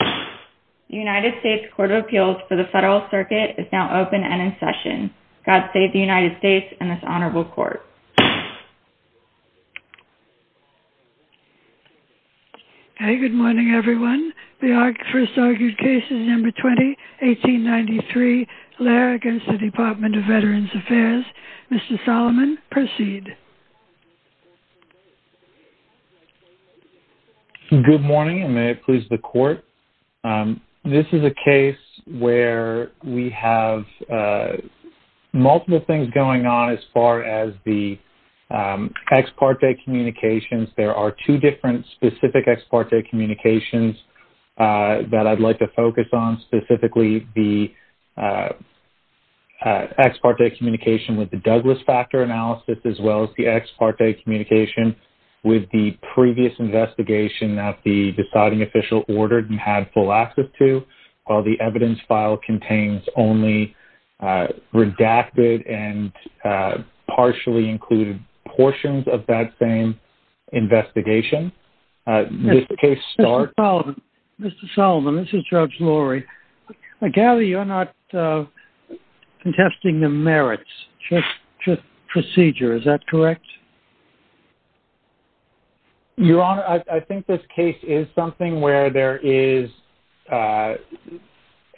The United States Court of Appeals for the Federal Circuit is now open and in session. God save the United States and this honorable court. Good morning everyone. The first argued case is No. 20, 1893, Laird v. Department of Veterans Affairs. Mr. Solomon, proceed. Good morning and may it please the court. This is a case where we have multiple things going on as far as the ex parte communications. There are two different specific ex parte communications that I'd like to focus on, specifically the ex parte communication with the Douglas factor analysis, as well as the ex parte communication with the previous investigation that the deciding official ordered and had full access to. While the evidence file contains only redacted and partially included portions of that same investigation. Mr. Solomon, this is Judge Lurie. I gather you're not contesting the merits, just procedure, is that correct? Your Honor, I think this case is something where there is, as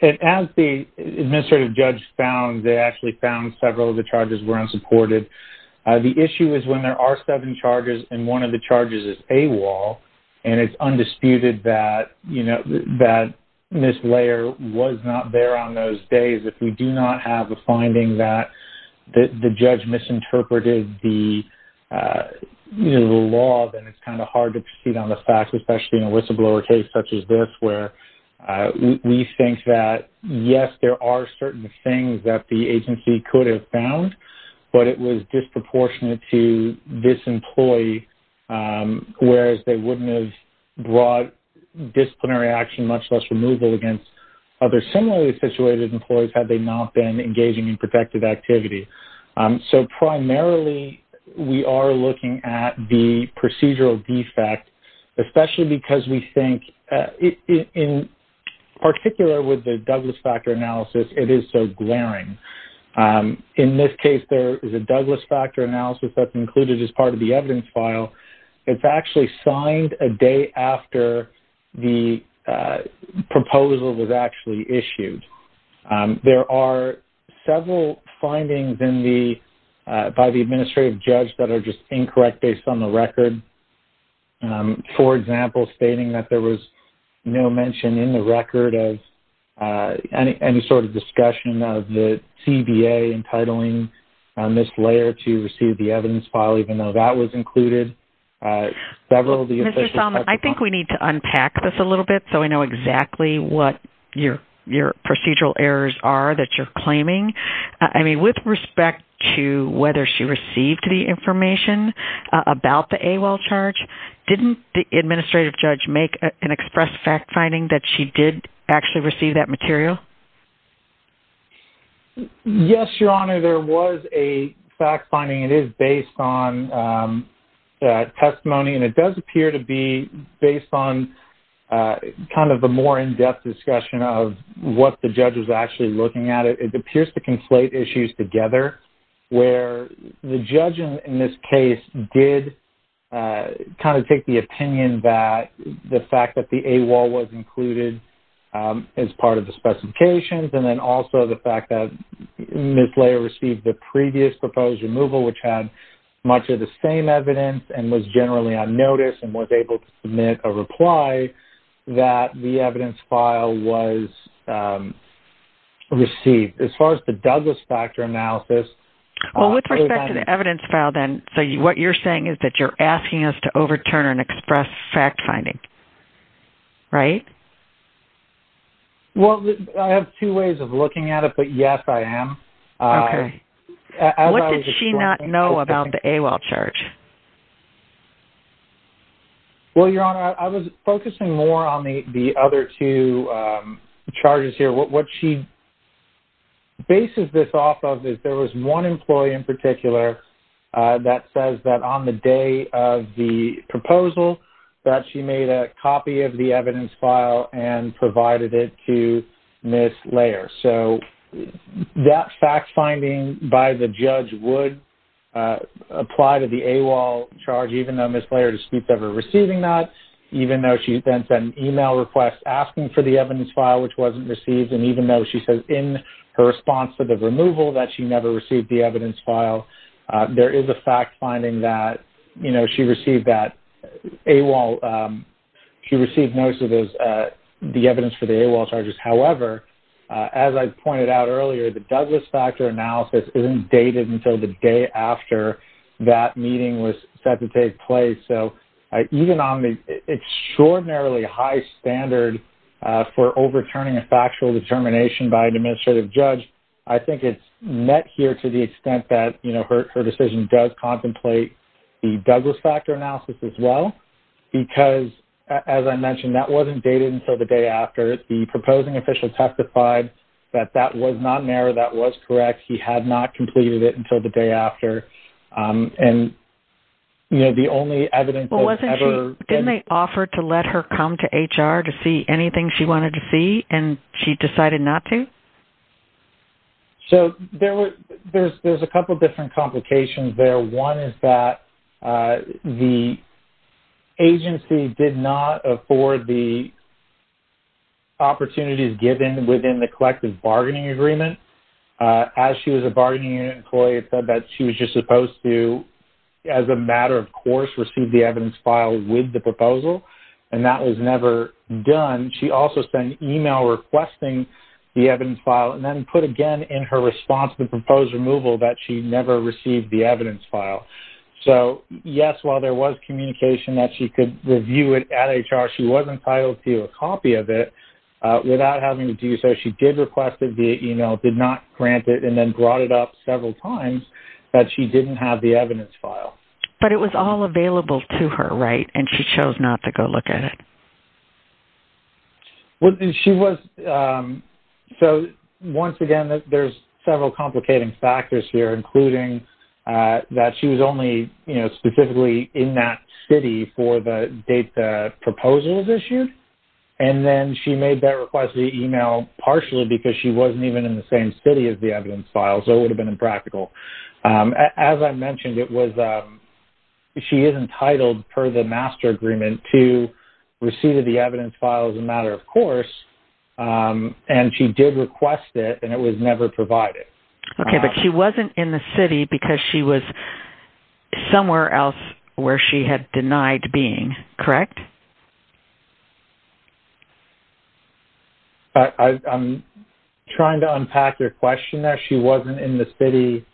the administrative judge found, they actually found several of the charges were unsupported. The issue is when there are seven charges and one of the charges is AWOL and it's undisputed that, you know, that this layer was not there on those days. If we do not have a finding that the judge misinterpreted the law, then it's kind of hard to proceed on the facts, especially in a whistleblower case such as this where we think that, yes, there are certain things that the agency could have found, but it was disproportionate to this employee, whereas they wouldn't have brought disciplinary action, much less removal against other similarly situated employees had they not been engaging in protective activity. So primarily we are looking at the procedural defect, especially because we think, in particular with the Douglas factor analysis, it is so glaring. In this case, there is a Douglas factor analysis that's included as part of the evidence file. It's actually signed a day after the proposal was actually issued. There are several findings by the administrative judge that are just incorrect based on the record. For example, stating that there was no mention in the record of any sort of discussion of the CBA entitling this layer to receive the evidence file, even though that was included. Mr. Salma, I think we need to unpack this a little bit so we know exactly what your procedural errors are that you're claiming. I mean, with respect to whether she received the information about the AWOL charge, didn't the administrative judge make an express fact finding that she did actually receive that material? Yes, Your Honor. There was a fact finding. It is based on testimony, and it does appear to be based on kind of a more in-depth discussion of what the judge was actually looking at. It appears to conflate issues together where the judge in this case did kind of take the opinion that the fact that the AWOL was included as part of the specifications and then also the fact that Ms. Layer received the previous proposed removal, which had much of the same evidence and was generally on notice and was able to submit a reply that the evidence file was received. As far as the Douglas factor analysis- Well, with respect to the evidence file then, so what you're saying is that you're asking us to overturn an express fact finding, right? Well, I have two ways of looking at it, but yes, I am. Okay. What did she not know about the AWOL charge? Well, Your Honor, I was focusing more on the other two charges here. What she bases this off of is there was one employee in particular that says that on the day of the proposal that she made a copy of the evidence file and provided it to Ms. Layer. So that fact finding by the judge would apply to the AWOL charge, even though Ms. Layer disputes ever receiving that, even though she then sent an email request asking for the evidence file, which wasn't received, and even though she says in her response to the removal that she never received the evidence file, there is a fact finding that she received notice of the evidence for the AWOL charges. However, as I pointed out earlier, the Douglas factor analysis isn't dated until the day after that meeting was set to take place. So even on the extraordinarily high standard for overturning a factual determination by an administrative judge, I think it's met here to the extent that her decision does contemplate the Douglas factor analysis as well, because, as I mentioned, that wasn't dated until the day after. The proposing official testified that that was not an error. That was correct. He had not completed it until the day after. And, you know, the only evidence that was ever... Didn't they offer to let her come to HR to see anything she wanted to see, and she decided not to? So there's a couple different complications there. One is that the agency did not afford the opportunities given within the collective bargaining agreement. As she was a bargaining unit employee, it said that she was just supposed to, as a matter of course, receive the evidence file with the proposal, and that was never done. She also sent an email requesting the evidence file, and then put again in her response the proposed removal that she never received the evidence file. So, yes, while there was communication that she could review it at HR, she wasn't entitled to a copy of it without having to do so. She did request it via email, did not grant it, and then brought it up several times that she didn't have the evidence file. But it was all available to her, right, and she chose not to go look at it? Well, she was... So, once again, there's several complicating factors here, including that she was only, you know, specifically in that city for the date the proposal was issued, and then she made that request via email partially because she wasn't even in the same city as the evidence file, so it would have been impractical. As I mentioned, it was... She is entitled per the master agreement to receive the evidence file as a matter of course, and she did request it, and it was never provided. Okay, but she wasn't in the city because she was somewhere else where she had denied being, correct? I'm trying to unpack your question there. She wasn't in the city...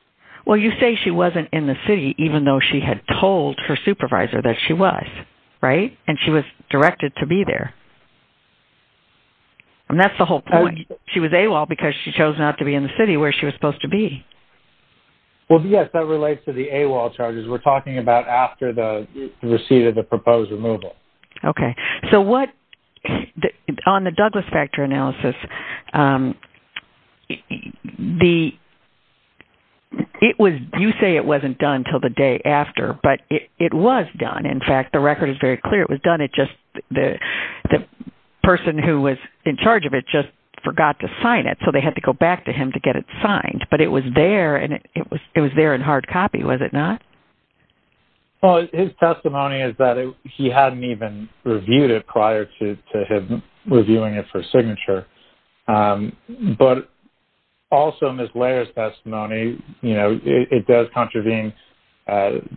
Well, you say she wasn't in the city even though she had told her supervisor that she was, right, and she was directed to be there, and that's the whole point. She was AWOL because she chose not to be in the city where she was supposed to be. Well, yes, that relates to the AWOL charges. We're talking about after the receipt of the proposed removal. Okay. So what... On the Douglas factor analysis, the... It was... You say it wasn't done until the day after, but it was done. In fact, the record is very clear. It was done. It just... The person who was in charge of it just forgot to sign it, so they had to go back to him to get it signed, but it was there, and it was there in hard copy, was it not? Well, his testimony is that he hadn't even reviewed it prior to him reviewing it for signature, but also Ms. Lair's testimony, you know, it does contravene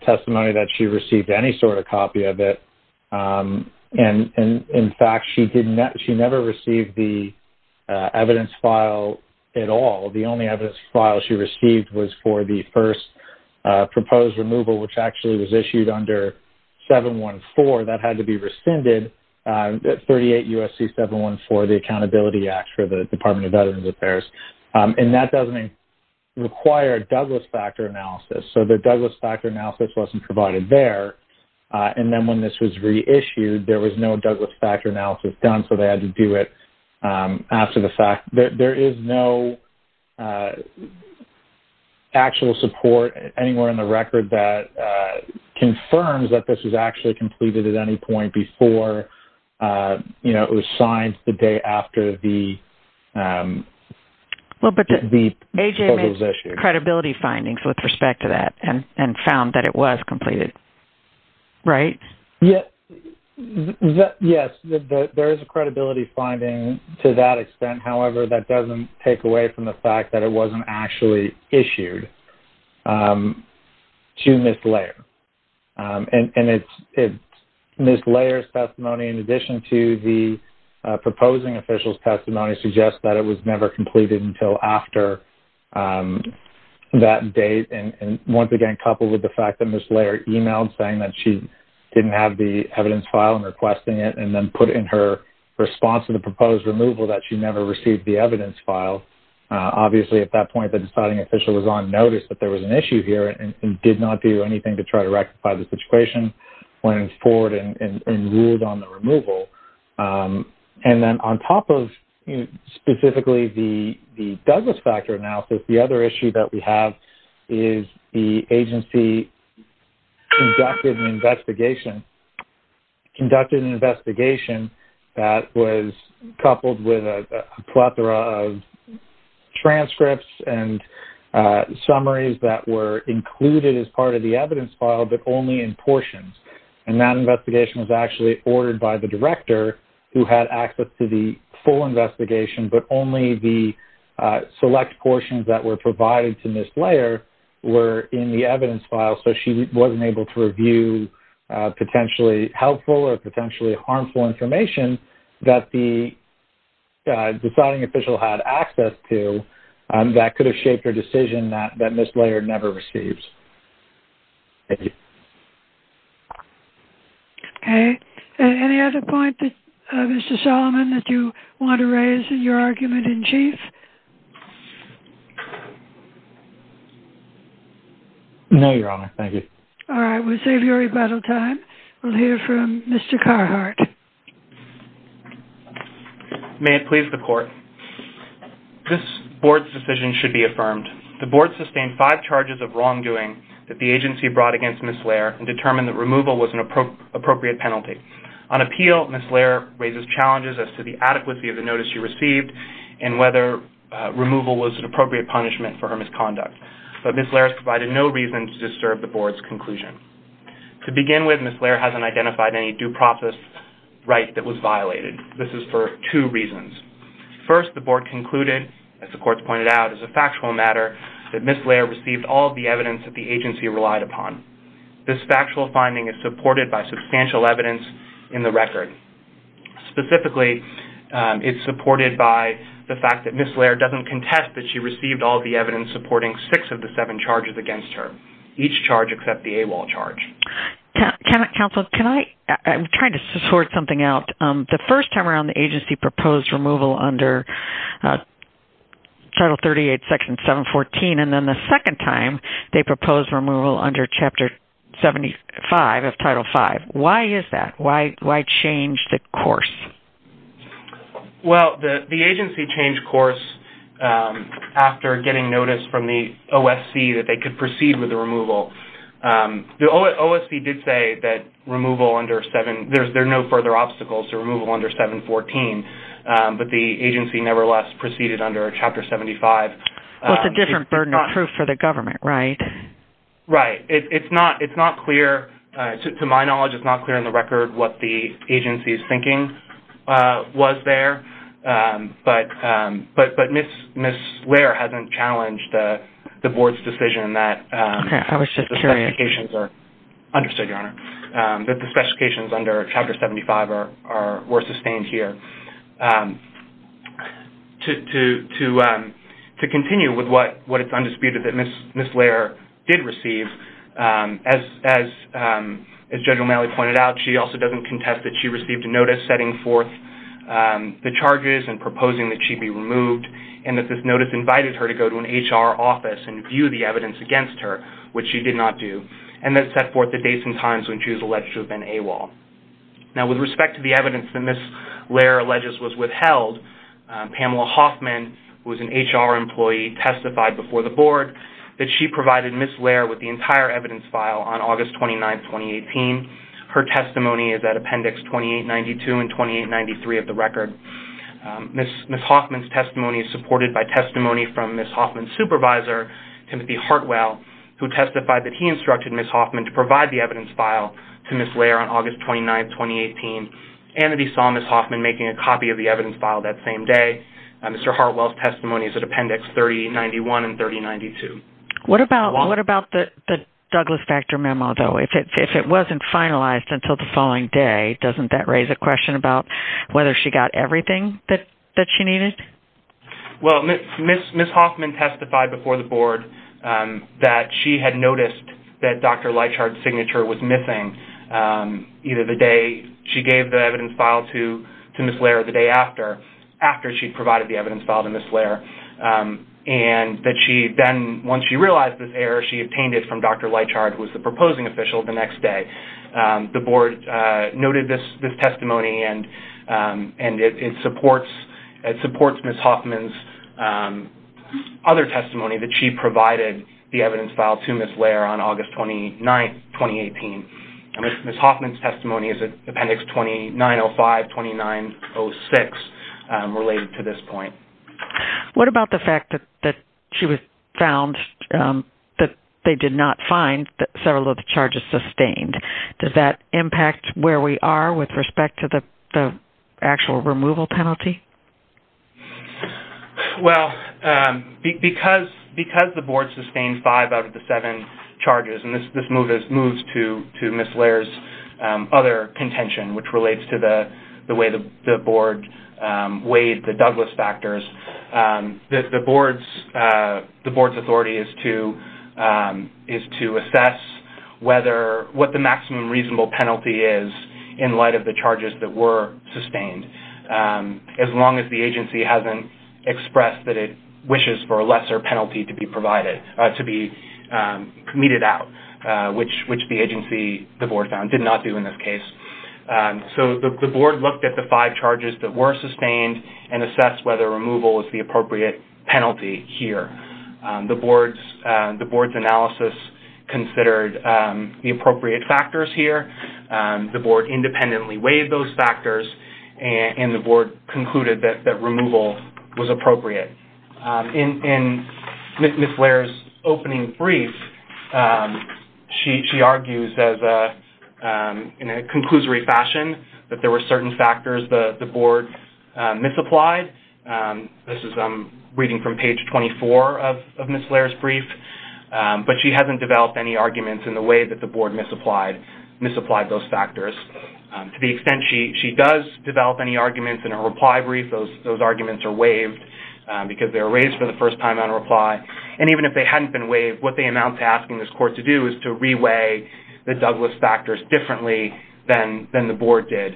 testimony that she received any sort of copy of it, and, in fact, she never received the evidence file at all. The only evidence file she received was for the first proposed removal, which actually was issued under 714. That had to be rescinded, 38 U.S.C. 714, the Accountability Act for the Department of Veterans Affairs, and that doesn't require Douglas factor analysis, so the Douglas factor analysis wasn't provided there, and then when this was reissued, there was no Douglas factor analysis done, so they had to do it after the fact. There is no actual support anywhere in the record that confirms that this was actually completed at any point before, you know, it was signed the day after the proposal was issued. Well, but AJ made credibility findings with respect to that and found that it was completed, right? Yes, there is a credibility finding to that extent. However, that doesn't take away from the fact that it wasn't actually issued to Ms. Lair, and Ms. Lair's testimony, in addition to the proposing official's testimony, suggests that it was never completed until after that date, and once again, coupled with the fact that Ms. Lair emailed saying that she didn't have the evidence file and requesting it, and then put in her response to the proposed removal that she never received the evidence file. Obviously, at that point, the deciding official was on notice that there was an issue here and did not do anything to try to rectify the situation, went forward and ruled on the removal. And then on top of specifically the Douglas factor analysis, the other issue that we have is the agency conducted an investigation that was coupled with a plethora of transcripts and summaries that were included as part of the evidence file, but only in portions, and that investigation was actually ordered by the director who had access to the full investigation, but only the select portions that were provided to Ms. Lair were in the evidence file, so she wasn't able to review potentially helpful or potentially harmful information that the deciding official had access to that could have shaped her decision that Ms. Lair never receives. Thank you. Okay. Any other point, Mr. Solomon, that you want to raise in your argument in chief? No, Your Honor. Thank you. All right. We'll save your rebuttal time. We'll hear from Mr. Carhart. May it please the Court, this Board's decision should be affirmed. The Board sustained five charges of wrongdoing that the agency brought against Ms. Lair and determined that removal was an appropriate penalty. On appeal, Ms. Lair raises challenges as to the adequacy of the notice she received and whether removal was an appropriate punishment for her misconduct, but Ms. Lair has provided no reason to disturb the Board's conclusion. To begin with, Ms. Lair hasn't identified any due process right that was violated. This is for two reasons. First, the Board concluded, as the Court's pointed out, as a factual matter, that Ms. Lair received all of the evidence that the agency relied upon. This factual finding is supported by substantial evidence in the record. Specifically, it's supported by the fact that Ms. Lair doesn't contest that she received all of the evidence supporting six of the seven charges against her, each charge except the AWOL charge. Counsel, I'm trying to sort something out. The first time around, the agency proposed removal under Title 38, Section 714, and then the second time, they proposed removal under Chapter 75 of Title 5. Why is that? Why change the course? Well, the agency changed course after getting notice from the OSC that they could proceed with the removal. The OSC did say that there are no further obstacles to removal under 714, but the agency nevertheless proceeded under Chapter 75. Well, it's a different burden of proof for the government, right? Right. It's not clear, to my knowledge, it's not clear in the record what the agency's thinking was there, but Ms. Lair hasn't challenged the Board's decision that the specifications are... Okay, I was just curious. Understood, Your Honor, that the specifications under Chapter 75 were sustained here. To continue with what is undisputed that Ms. Lair did receive, as Judge O'Malley pointed out, she also doesn't contest that she received a notice setting forth the charges and proposing that she be removed, and that this notice invited her to go to an HR office and view the evidence against her, which she did not do, and then set forth the dates and times when she was alleged to have been AWOL. Now, with respect to the evidence that Ms. Lair alleges was withheld, Pamela Hoffman, who is an HR employee, testified before the Board that she provided Ms. Lair with the entire evidence file on August 29, 2018. Her testimony is at Appendix 2892 and 2893 of the record. Ms. Hoffman's testimony is supported by testimony from Ms. Hoffman's supervisor, Timothy Hartwell, who testified that he instructed Ms. Hoffman to provide the evidence file to Ms. Lair on August 29, 2018, and that he saw Ms. Hoffman making a copy of the evidence file that same day. Mr. Hartwell's testimony is at Appendix 3091 and 3092. What about the Douglas Factor memo, though? If it wasn't finalized until the following day, doesn't that raise a question about whether she got everything that she needed? Well, Ms. Hoffman testified before the Board that she had noticed that Dr. Leitchard's signature was missing either the day she gave the evidence file to Ms. Lair or the day after, after she provided the evidence file to Ms. Lair, and that she then, once she realized this error, she obtained it from Dr. Leitchard, who was the proposing official, the next day. The Board noted this testimony, and it supports Ms. Hoffman's other testimony that she provided the evidence file to Ms. Lair on August 29, 2018. Ms. Hoffman's testimony is at Appendix 2905-2906, related to this point. What about the fact that she was found, that they did not find several of the charges sustained? Does that impact where we are with respect to the actual removal penalty? Well, because the Board sustained five out of the seven charges, and this moves to Ms. Lair's other contention, which relates to the way the Board weighed the Douglas factors, the Board's authority is to assess what the maximum reasonable penalty is in light of the charges that were sustained. As long as the agency hasn't expressed that it wishes for a lesser penalty to be provided, to be meted out, which the agency, the Board found, did not do in this case. So the Board looked at the five charges that were sustained and assessed whether removal was the appropriate penalty here. The Board's analysis considered the appropriate factors here. The Board independently weighed those factors, and the Board concluded that removal was appropriate. In Ms. Lair's opening brief, she argues in a conclusory fashion that there were certain factors the Board misapplied. This is reading from page 24 of Ms. Lair's brief, but she hasn't developed any arguments in the way that the Board misapplied those factors. To the extent she does develop any arguments in her reply brief, those arguments are waived because they were raised for the first time on reply. And even if they hadn't been waived, what they amount to asking this Court to do is to re-weigh the Douglas factors differently than the Board did,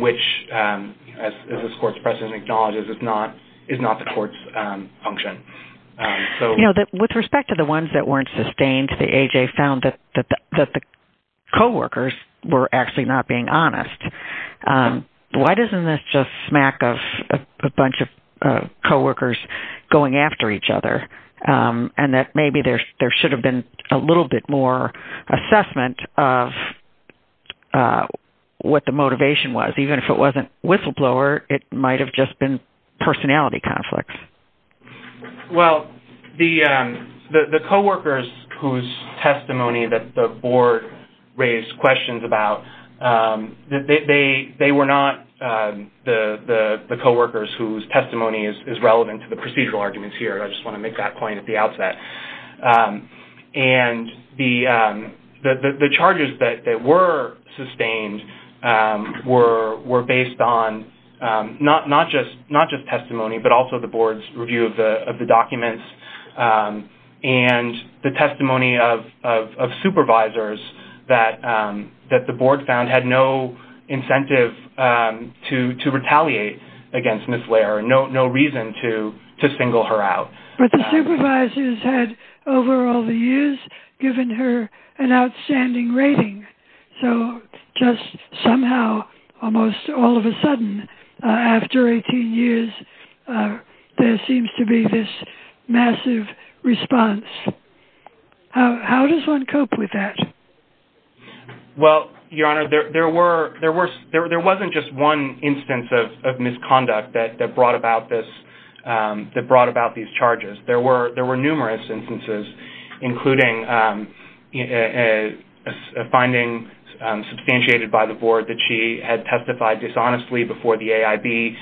which, as this Court's precedent acknowledges, is not the Court's function. With respect to the ones that weren't sustained, I think the AJ found that the co-workers were actually not being honest. Why doesn't this just smack of a bunch of co-workers going after each other and that maybe there should have been a little bit more assessment of what the motivation was? Even if it wasn't whistleblower, it might have just been personality conflicts. Well, the co-workers whose testimony that the Board raised questions about, they were not the co-workers whose testimony is relevant to the procedural arguments here. I just want to make that point at the outset. And the charges that were sustained were based on not just testimony but also the Board's review of the documents and the testimony of supervisors that the Board found had no incentive to retaliate against Ms. Lair, no reason to single her out. But the supervisors had, over all the years, given her an outstanding rating. So just somehow, almost all of a sudden, after 18 years, there seems to be this massive response. How does one cope with that? Well, Your Honor, there wasn't just one instance of misconduct that brought about these charges. There were numerous instances, including a finding substantiated by the Board that she had testified dishonestly before the AIB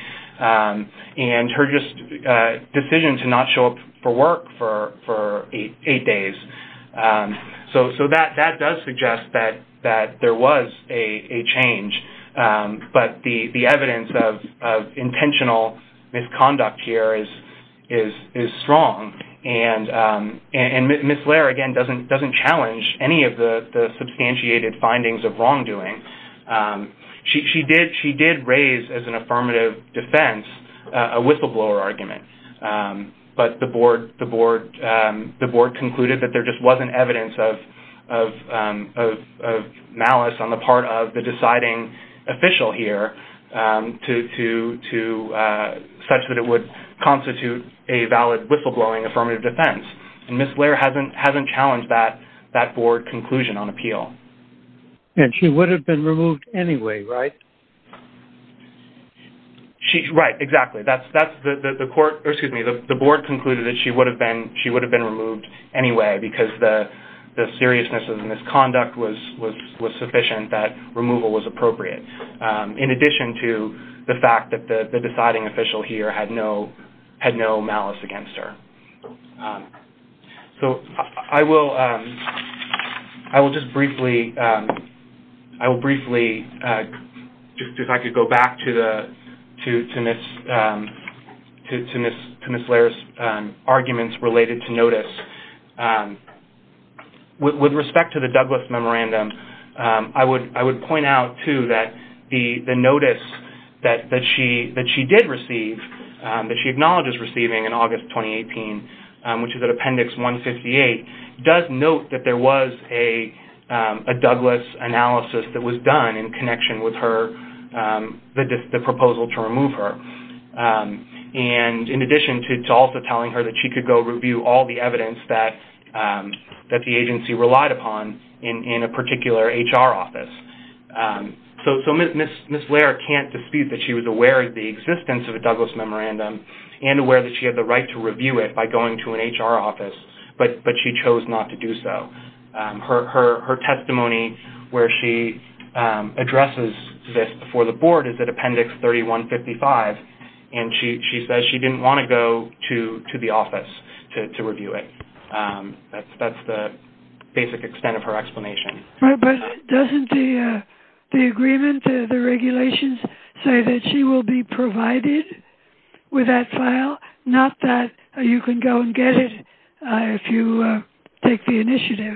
and her decision to not show up for work for eight days. So that does suggest that there was a change. But the evidence of intentional misconduct here is strong. And Ms. Lair, again, doesn't challenge any of the substantiated findings of wrongdoing. She did raise, as an affirmative defense, a whistleblower argument. But the Board concluded that there just wasn't evidence of malice on the part of the deciding official here, such that it would constitute a valid whistleblowing affirmative defense. And Ms. Lair hasn't challenged that Board conclusion on appeal. And she would have been removed anyway, right? Right, exactly. The Board concluded that she would have been removed anyway because the seriousness of the misconduct was sufficient that removal was appropriate, in addition to the fact that the deciding official here had no malice against her. So I will just briefly, if I could go back to Ms. Lair's arguments related to notice, with respect to the Douglas Memorandum, I would point out, too, that the notice that she did receive, that she acknowledges receiving in August 2018, which is at Appendix 158, does note that there was a Douglas analysis that was done in connection with the proposal to remove her. And in addition to also telling her that she could go review all the evidence that the agency relied upon in a particular HR office. So Ms. Lair can't dispute that she was aware of the existence of a Douglas Memorandum and aware that she had the right to review it by going to an HR office, but she chose not to do so. Her testimony where she addresses this before the Board is at Appendix 3155, and she says she didn't want to go to the office to review it. That's the basic extent of her explanation. But doesn't the agreement, the regulations, say that she will be provided with that file, not that you can go and get it if you take the initiative?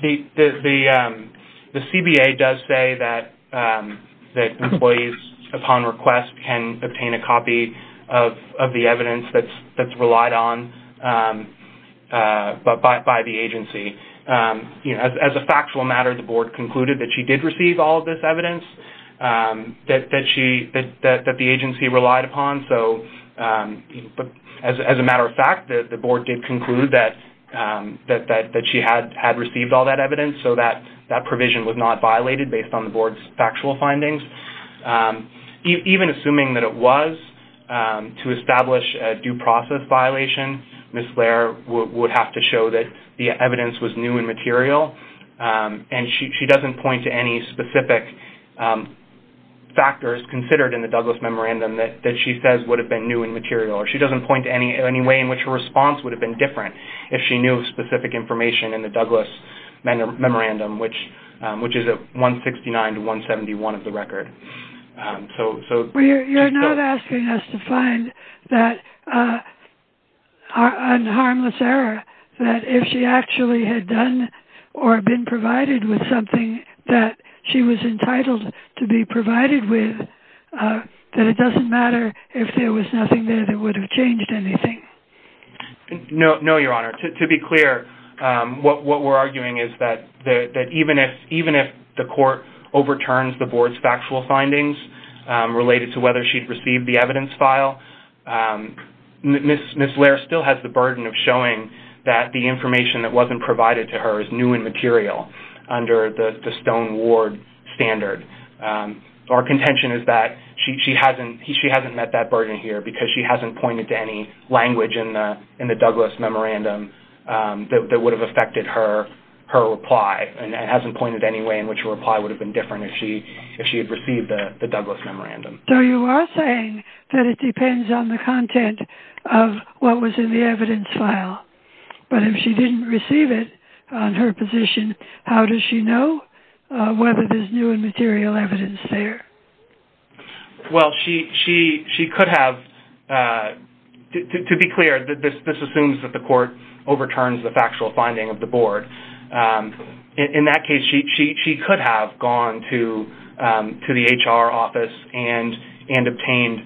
The CBA does say that employees, upon request, can obtain a copy of the evidence that's relied on by the agency. As a factual matter, the Board concluded that she did receive all of this evidence that the agency relied upon. But as a matter of fact, the Board did conclude that she had received all that evidence, so that provision was not violated based on the Board's factual findings. Even assuming that it was to establish a due process violation, Ms. Lair would have to show that the evidence was new and material, and she doesn't point to any specific factors considered in the Douglas Memorandum that she says would have been new and material, or she doesn't point to any way in which her response would have been different if she knew specific information in the Douglas Memorandum, which is at 169 to 171 of the record. You're not asking us to find an unharmless error that if she actually had done or been provided with something that she was entitled to be provided with, that it doesn't matter if there was nothing there that would have changed anything? No, Your Honor. To be clear, what we're arguing is that even if the Court overturns the Board's factual findings related to whether she'd received the evidence file, Ms. Lair still has the burden of showing that the information that wasn't provided to her is new and material under the Stone Ward standard. Our contention is that she hasn't met that burden here because she hasn't pointed to any language in the Douglas Memorandum that would have affected her reply and hasn't pointed to any way in which her reply would have been different if she had received the Douglas Memorandum. So you are saying that it depends on the content of what was in the evidence file, but if she didn't receive it on her position, how does she know whether there's new and material evidence there? Well, she could have... To be clear, this assumes that the Court overturns the factual finding of the Board. In that case, she could have gone to the HR office and obtained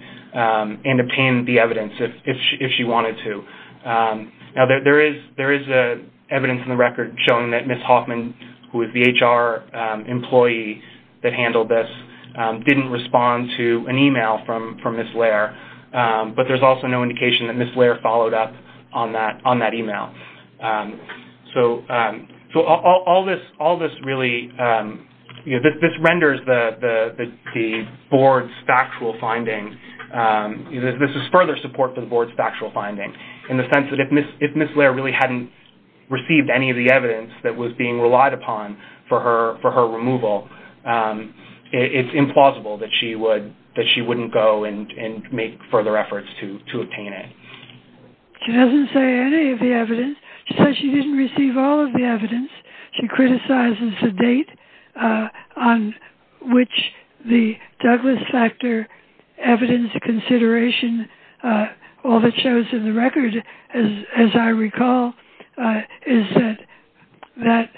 the evidence if she wanted to. Now, there is evidence in the record showing that Ms. Hoffman, who is the HR employee that handled this, didn't respond to an email from Ms. Lair, but there's also no indication that Ms. Lair followed up on that email. So all this really... This renders the Board's factual finding... This is further support for the Board's factual finding in the sense that if Ms. Lair really hadn't received any of the evidence that was being relied upon for her removal, it's implausible that she wouldn't go and make further efforts to obtain it. She doesn't say any of the evidence. She says she didn't receive all of the evidence. She criticizes the date on which the Douglas Factor evidence consideration, all that shows in the record, as I recall, is that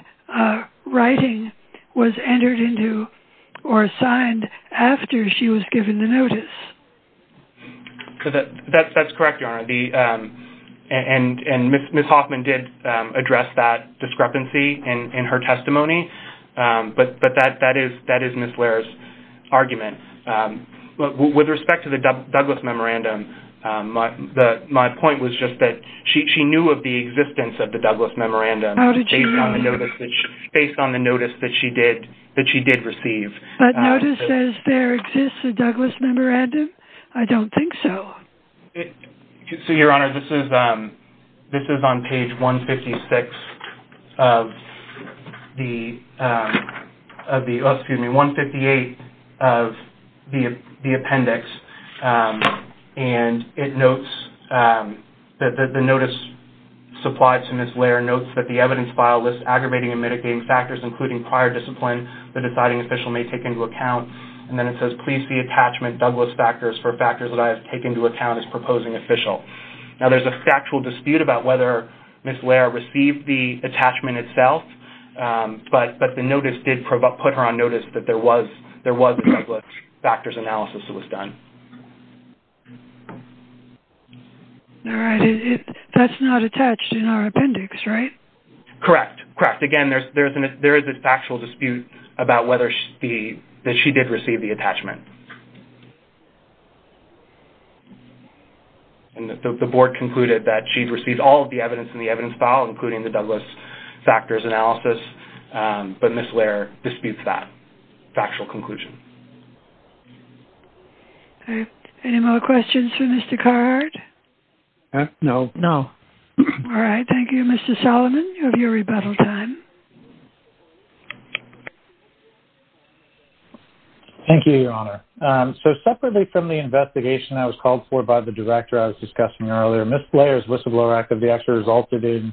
writing was entered into or signed after she was given the notice. That's correct, Your Honor. Ms. Hoffman did address that discrepancy in her testimony, but that is Ms. Lair's argument. With respect to the Douglas Memorandum, my point was just that she knew of the existence of the Douglas Memorandum based on the notice that she did receive. But notice says there exists a Douglas Memorandum? I don't think so. So, Your Honor, this is on page 156 of the... Oh, excuse me, 158 of the appendix. And it notes that the notice supplied to Ms. Lair notes that the evidence file lists aggravating and mitigating factors, including prior discipline, the deciding official may take into account. And then it says, please see attachment Douglas factors for factors that I have taken into account as proposing official. Now, there's a factual dispute about whether Ms. Lair received the attachment itself, but the notice did put her on notice that there was a Douglas factors analysis that was done. All right. That's not attached in our appendix, right? Correct. Correct. Again, there is a factual dispute about whether she did receive the attachment. And the Board concluded that she'd received all of the evidence in the evidence file, including the Douglas factors analysis. But Ms. Lair disputes that factual conclusion. Any more questions for Mr. Carhart? No. No. All right. Thank you, Mr. Solomon, of your rebuttal time. Thank you, Your Honor. So, separately from the investigation I was called for by the director I was discussing earlier, Ms. Lair's whistleblower activity actually resulted in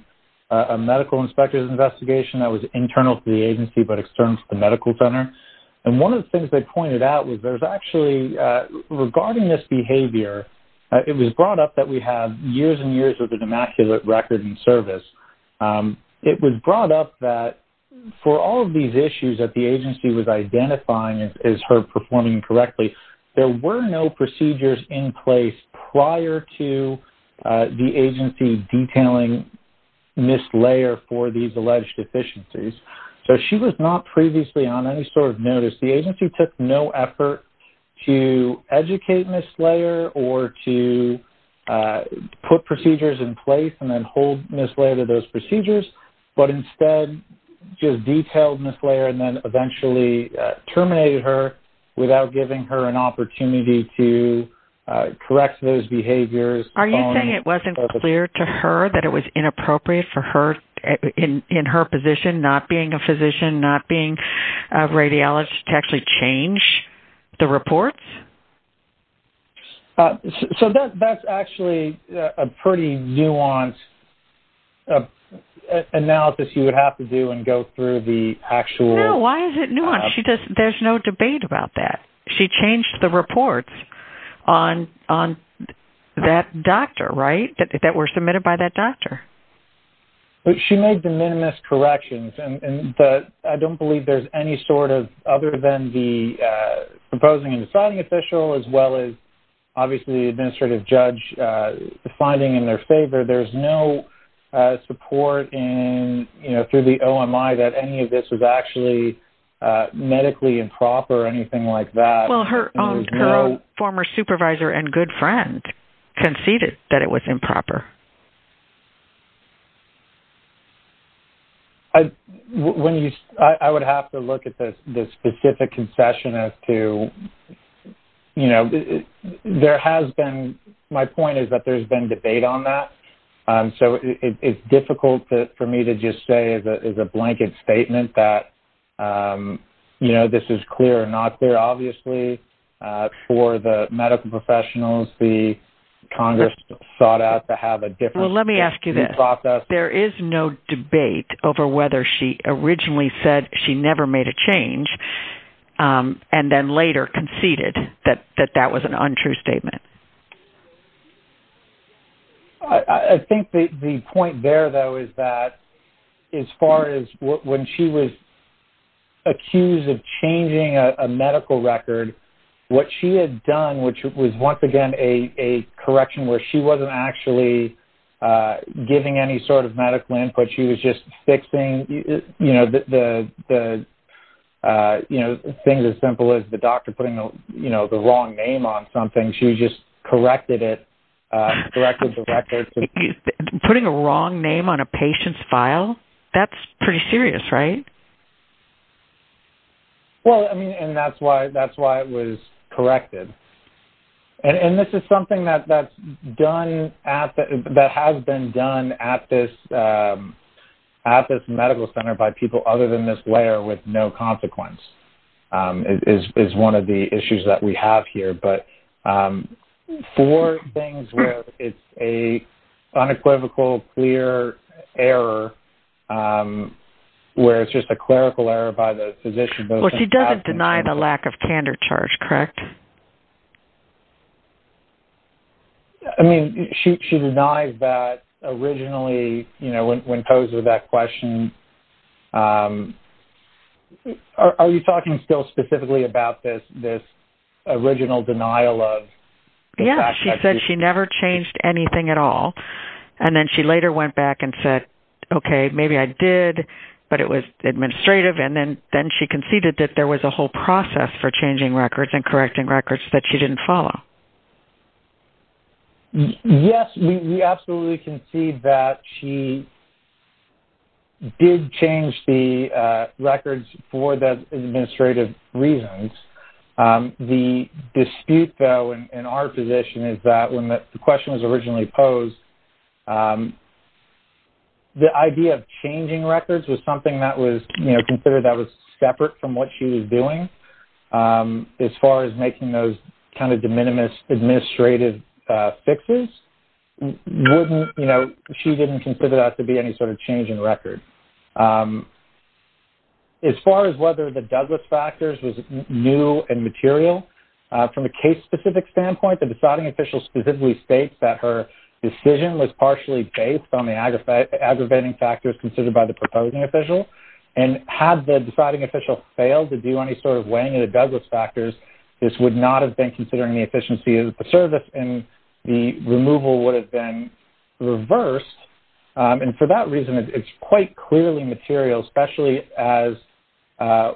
a medical inspector's investigation that was internal to the agency but external to the medical center. And one of the things they pointed out was there's actually, regarding this behavior, it was brought up that we have years and years of the demaculate record in service. It was brought up that for all of these issues that the agency was identifying as her performing correctly, there were no procedures in place prior to the agency detailing Ms. Lair for these alleged deficiencies. So she was not previously on any sort of notice. The agency took no effort to educate Ms. Lair or to put procedures in place and then hold Ms. Lair to those procedures, but instead just detailed Ms. Lair and then eventually terminated her without giving her an opportunity to correct those behaviors. Are you saying it wasn't clear to her that it was inappropriate for her, in her position, not being a physician, not being a radiologist, to actually change the reports? So that's actually a pretty nuanced analysis you would have to do and go through the actual... No, why is it nuanced? There's no debate about that. She changed the reports on that doctor, right, that were submitted by that doctor. She made the minimist corrections, and I don't believe there's any sort of, other than the proposing and deciding official, as well as obviously the administrative judge finding in their favor, there's no support through the OMI that any of this was actually medically improper or anything like that. Well, her own former supervisor and good friend conceded that it was improper. I would have to look at the specific concession as to, you know, there has been, my point is that there's been debate on that, so it's difficult for me to just say as a blanket statement that, you know, this is clear or not clear. Obviously, for the medical professionals, Congress sought out to have a different process. Well, let me ask you this. There is no debate over whether she originally said she never made a change and then later conceded that that was an untrue statement. I think the point there, though, is that as far as when she was accused of changing a medical record, what she had done, which was once again a correction, where she wasn't actually giving any sort of medical input. She was just fixing, you know, things as simple as the doctor putting the wrong name on something. She just corrected it, corrected the record. Putting a wrong name on a patient's file? That's pretty serious, right? Well, I mean, and that's why it was corrected. And this is something that has been done at this medical center by people other than Ms. Lair with no consequence is one of the issues that we have here. But for things where it's an unequivocal, clear error, where it's just a clerical error by the physician. Well, she doesn't deny the lack of candor charge, correct? I mean, she denies that originally, you know, when posed with that question. Are you talking still specifically about this original denial of? Yeah, she said she never changed anything at all. And then she later went back and said, okay, maybe I did, but it was administrative. And then she conceded that there was a whole process for changing records and correcting records that she didn't follow. Yes, we absolutely concede that she did change the records for the administrative reasons. The dispute, though, in our position is that when the question was originally posed, the idea of changing records was something that was, you know, considered that was separate from what she was doing as far as making those kind of de minimis administrative fixes. You know, she didn't consider that to be any sort of change in record. As far as whether the Douglas factors was new and material, from a case-specific standpoint, the deciding official specifically states that her decision was partially based on the aggravating factors considered by the proposing official. And had the deciding official failed to do any sort of weighing of the Douglas factors, this would not have been considering the efficiency of the service and the removal would have been reversed. And for that reason, it's quite clearly material, especially as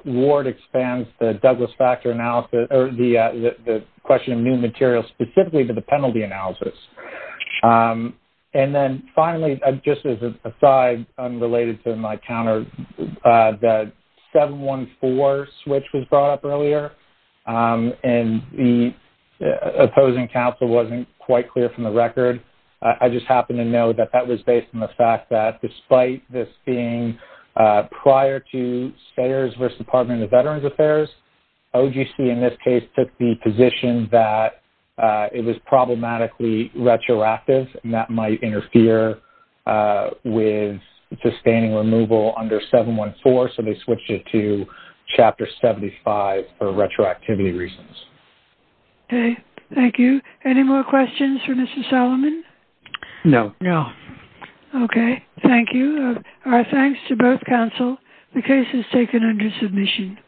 Ward expands the Douglas factor analysis, or the question of new material specifically to the penalty analysis. And then finally, just as an aside, unrelated to my counter, the 714 switch was brought up earlier. And the opposing counsel wasn't quite clear from the record. I just happen to know that that was based on the fact that despite this being prior to Sayers versus Department of Veterans Affairs, OGC in this case took the position that it was problematically retroactive and that might interfere with sustaining removal under 714. So they switched it to Chapter 75 for retroactivity reasons. Okay. Thank you. Any more questions for Mr. Solomon? No. No. Okay. Thank you. Our thanks to both counsel. The case is taken under submission. Thank you.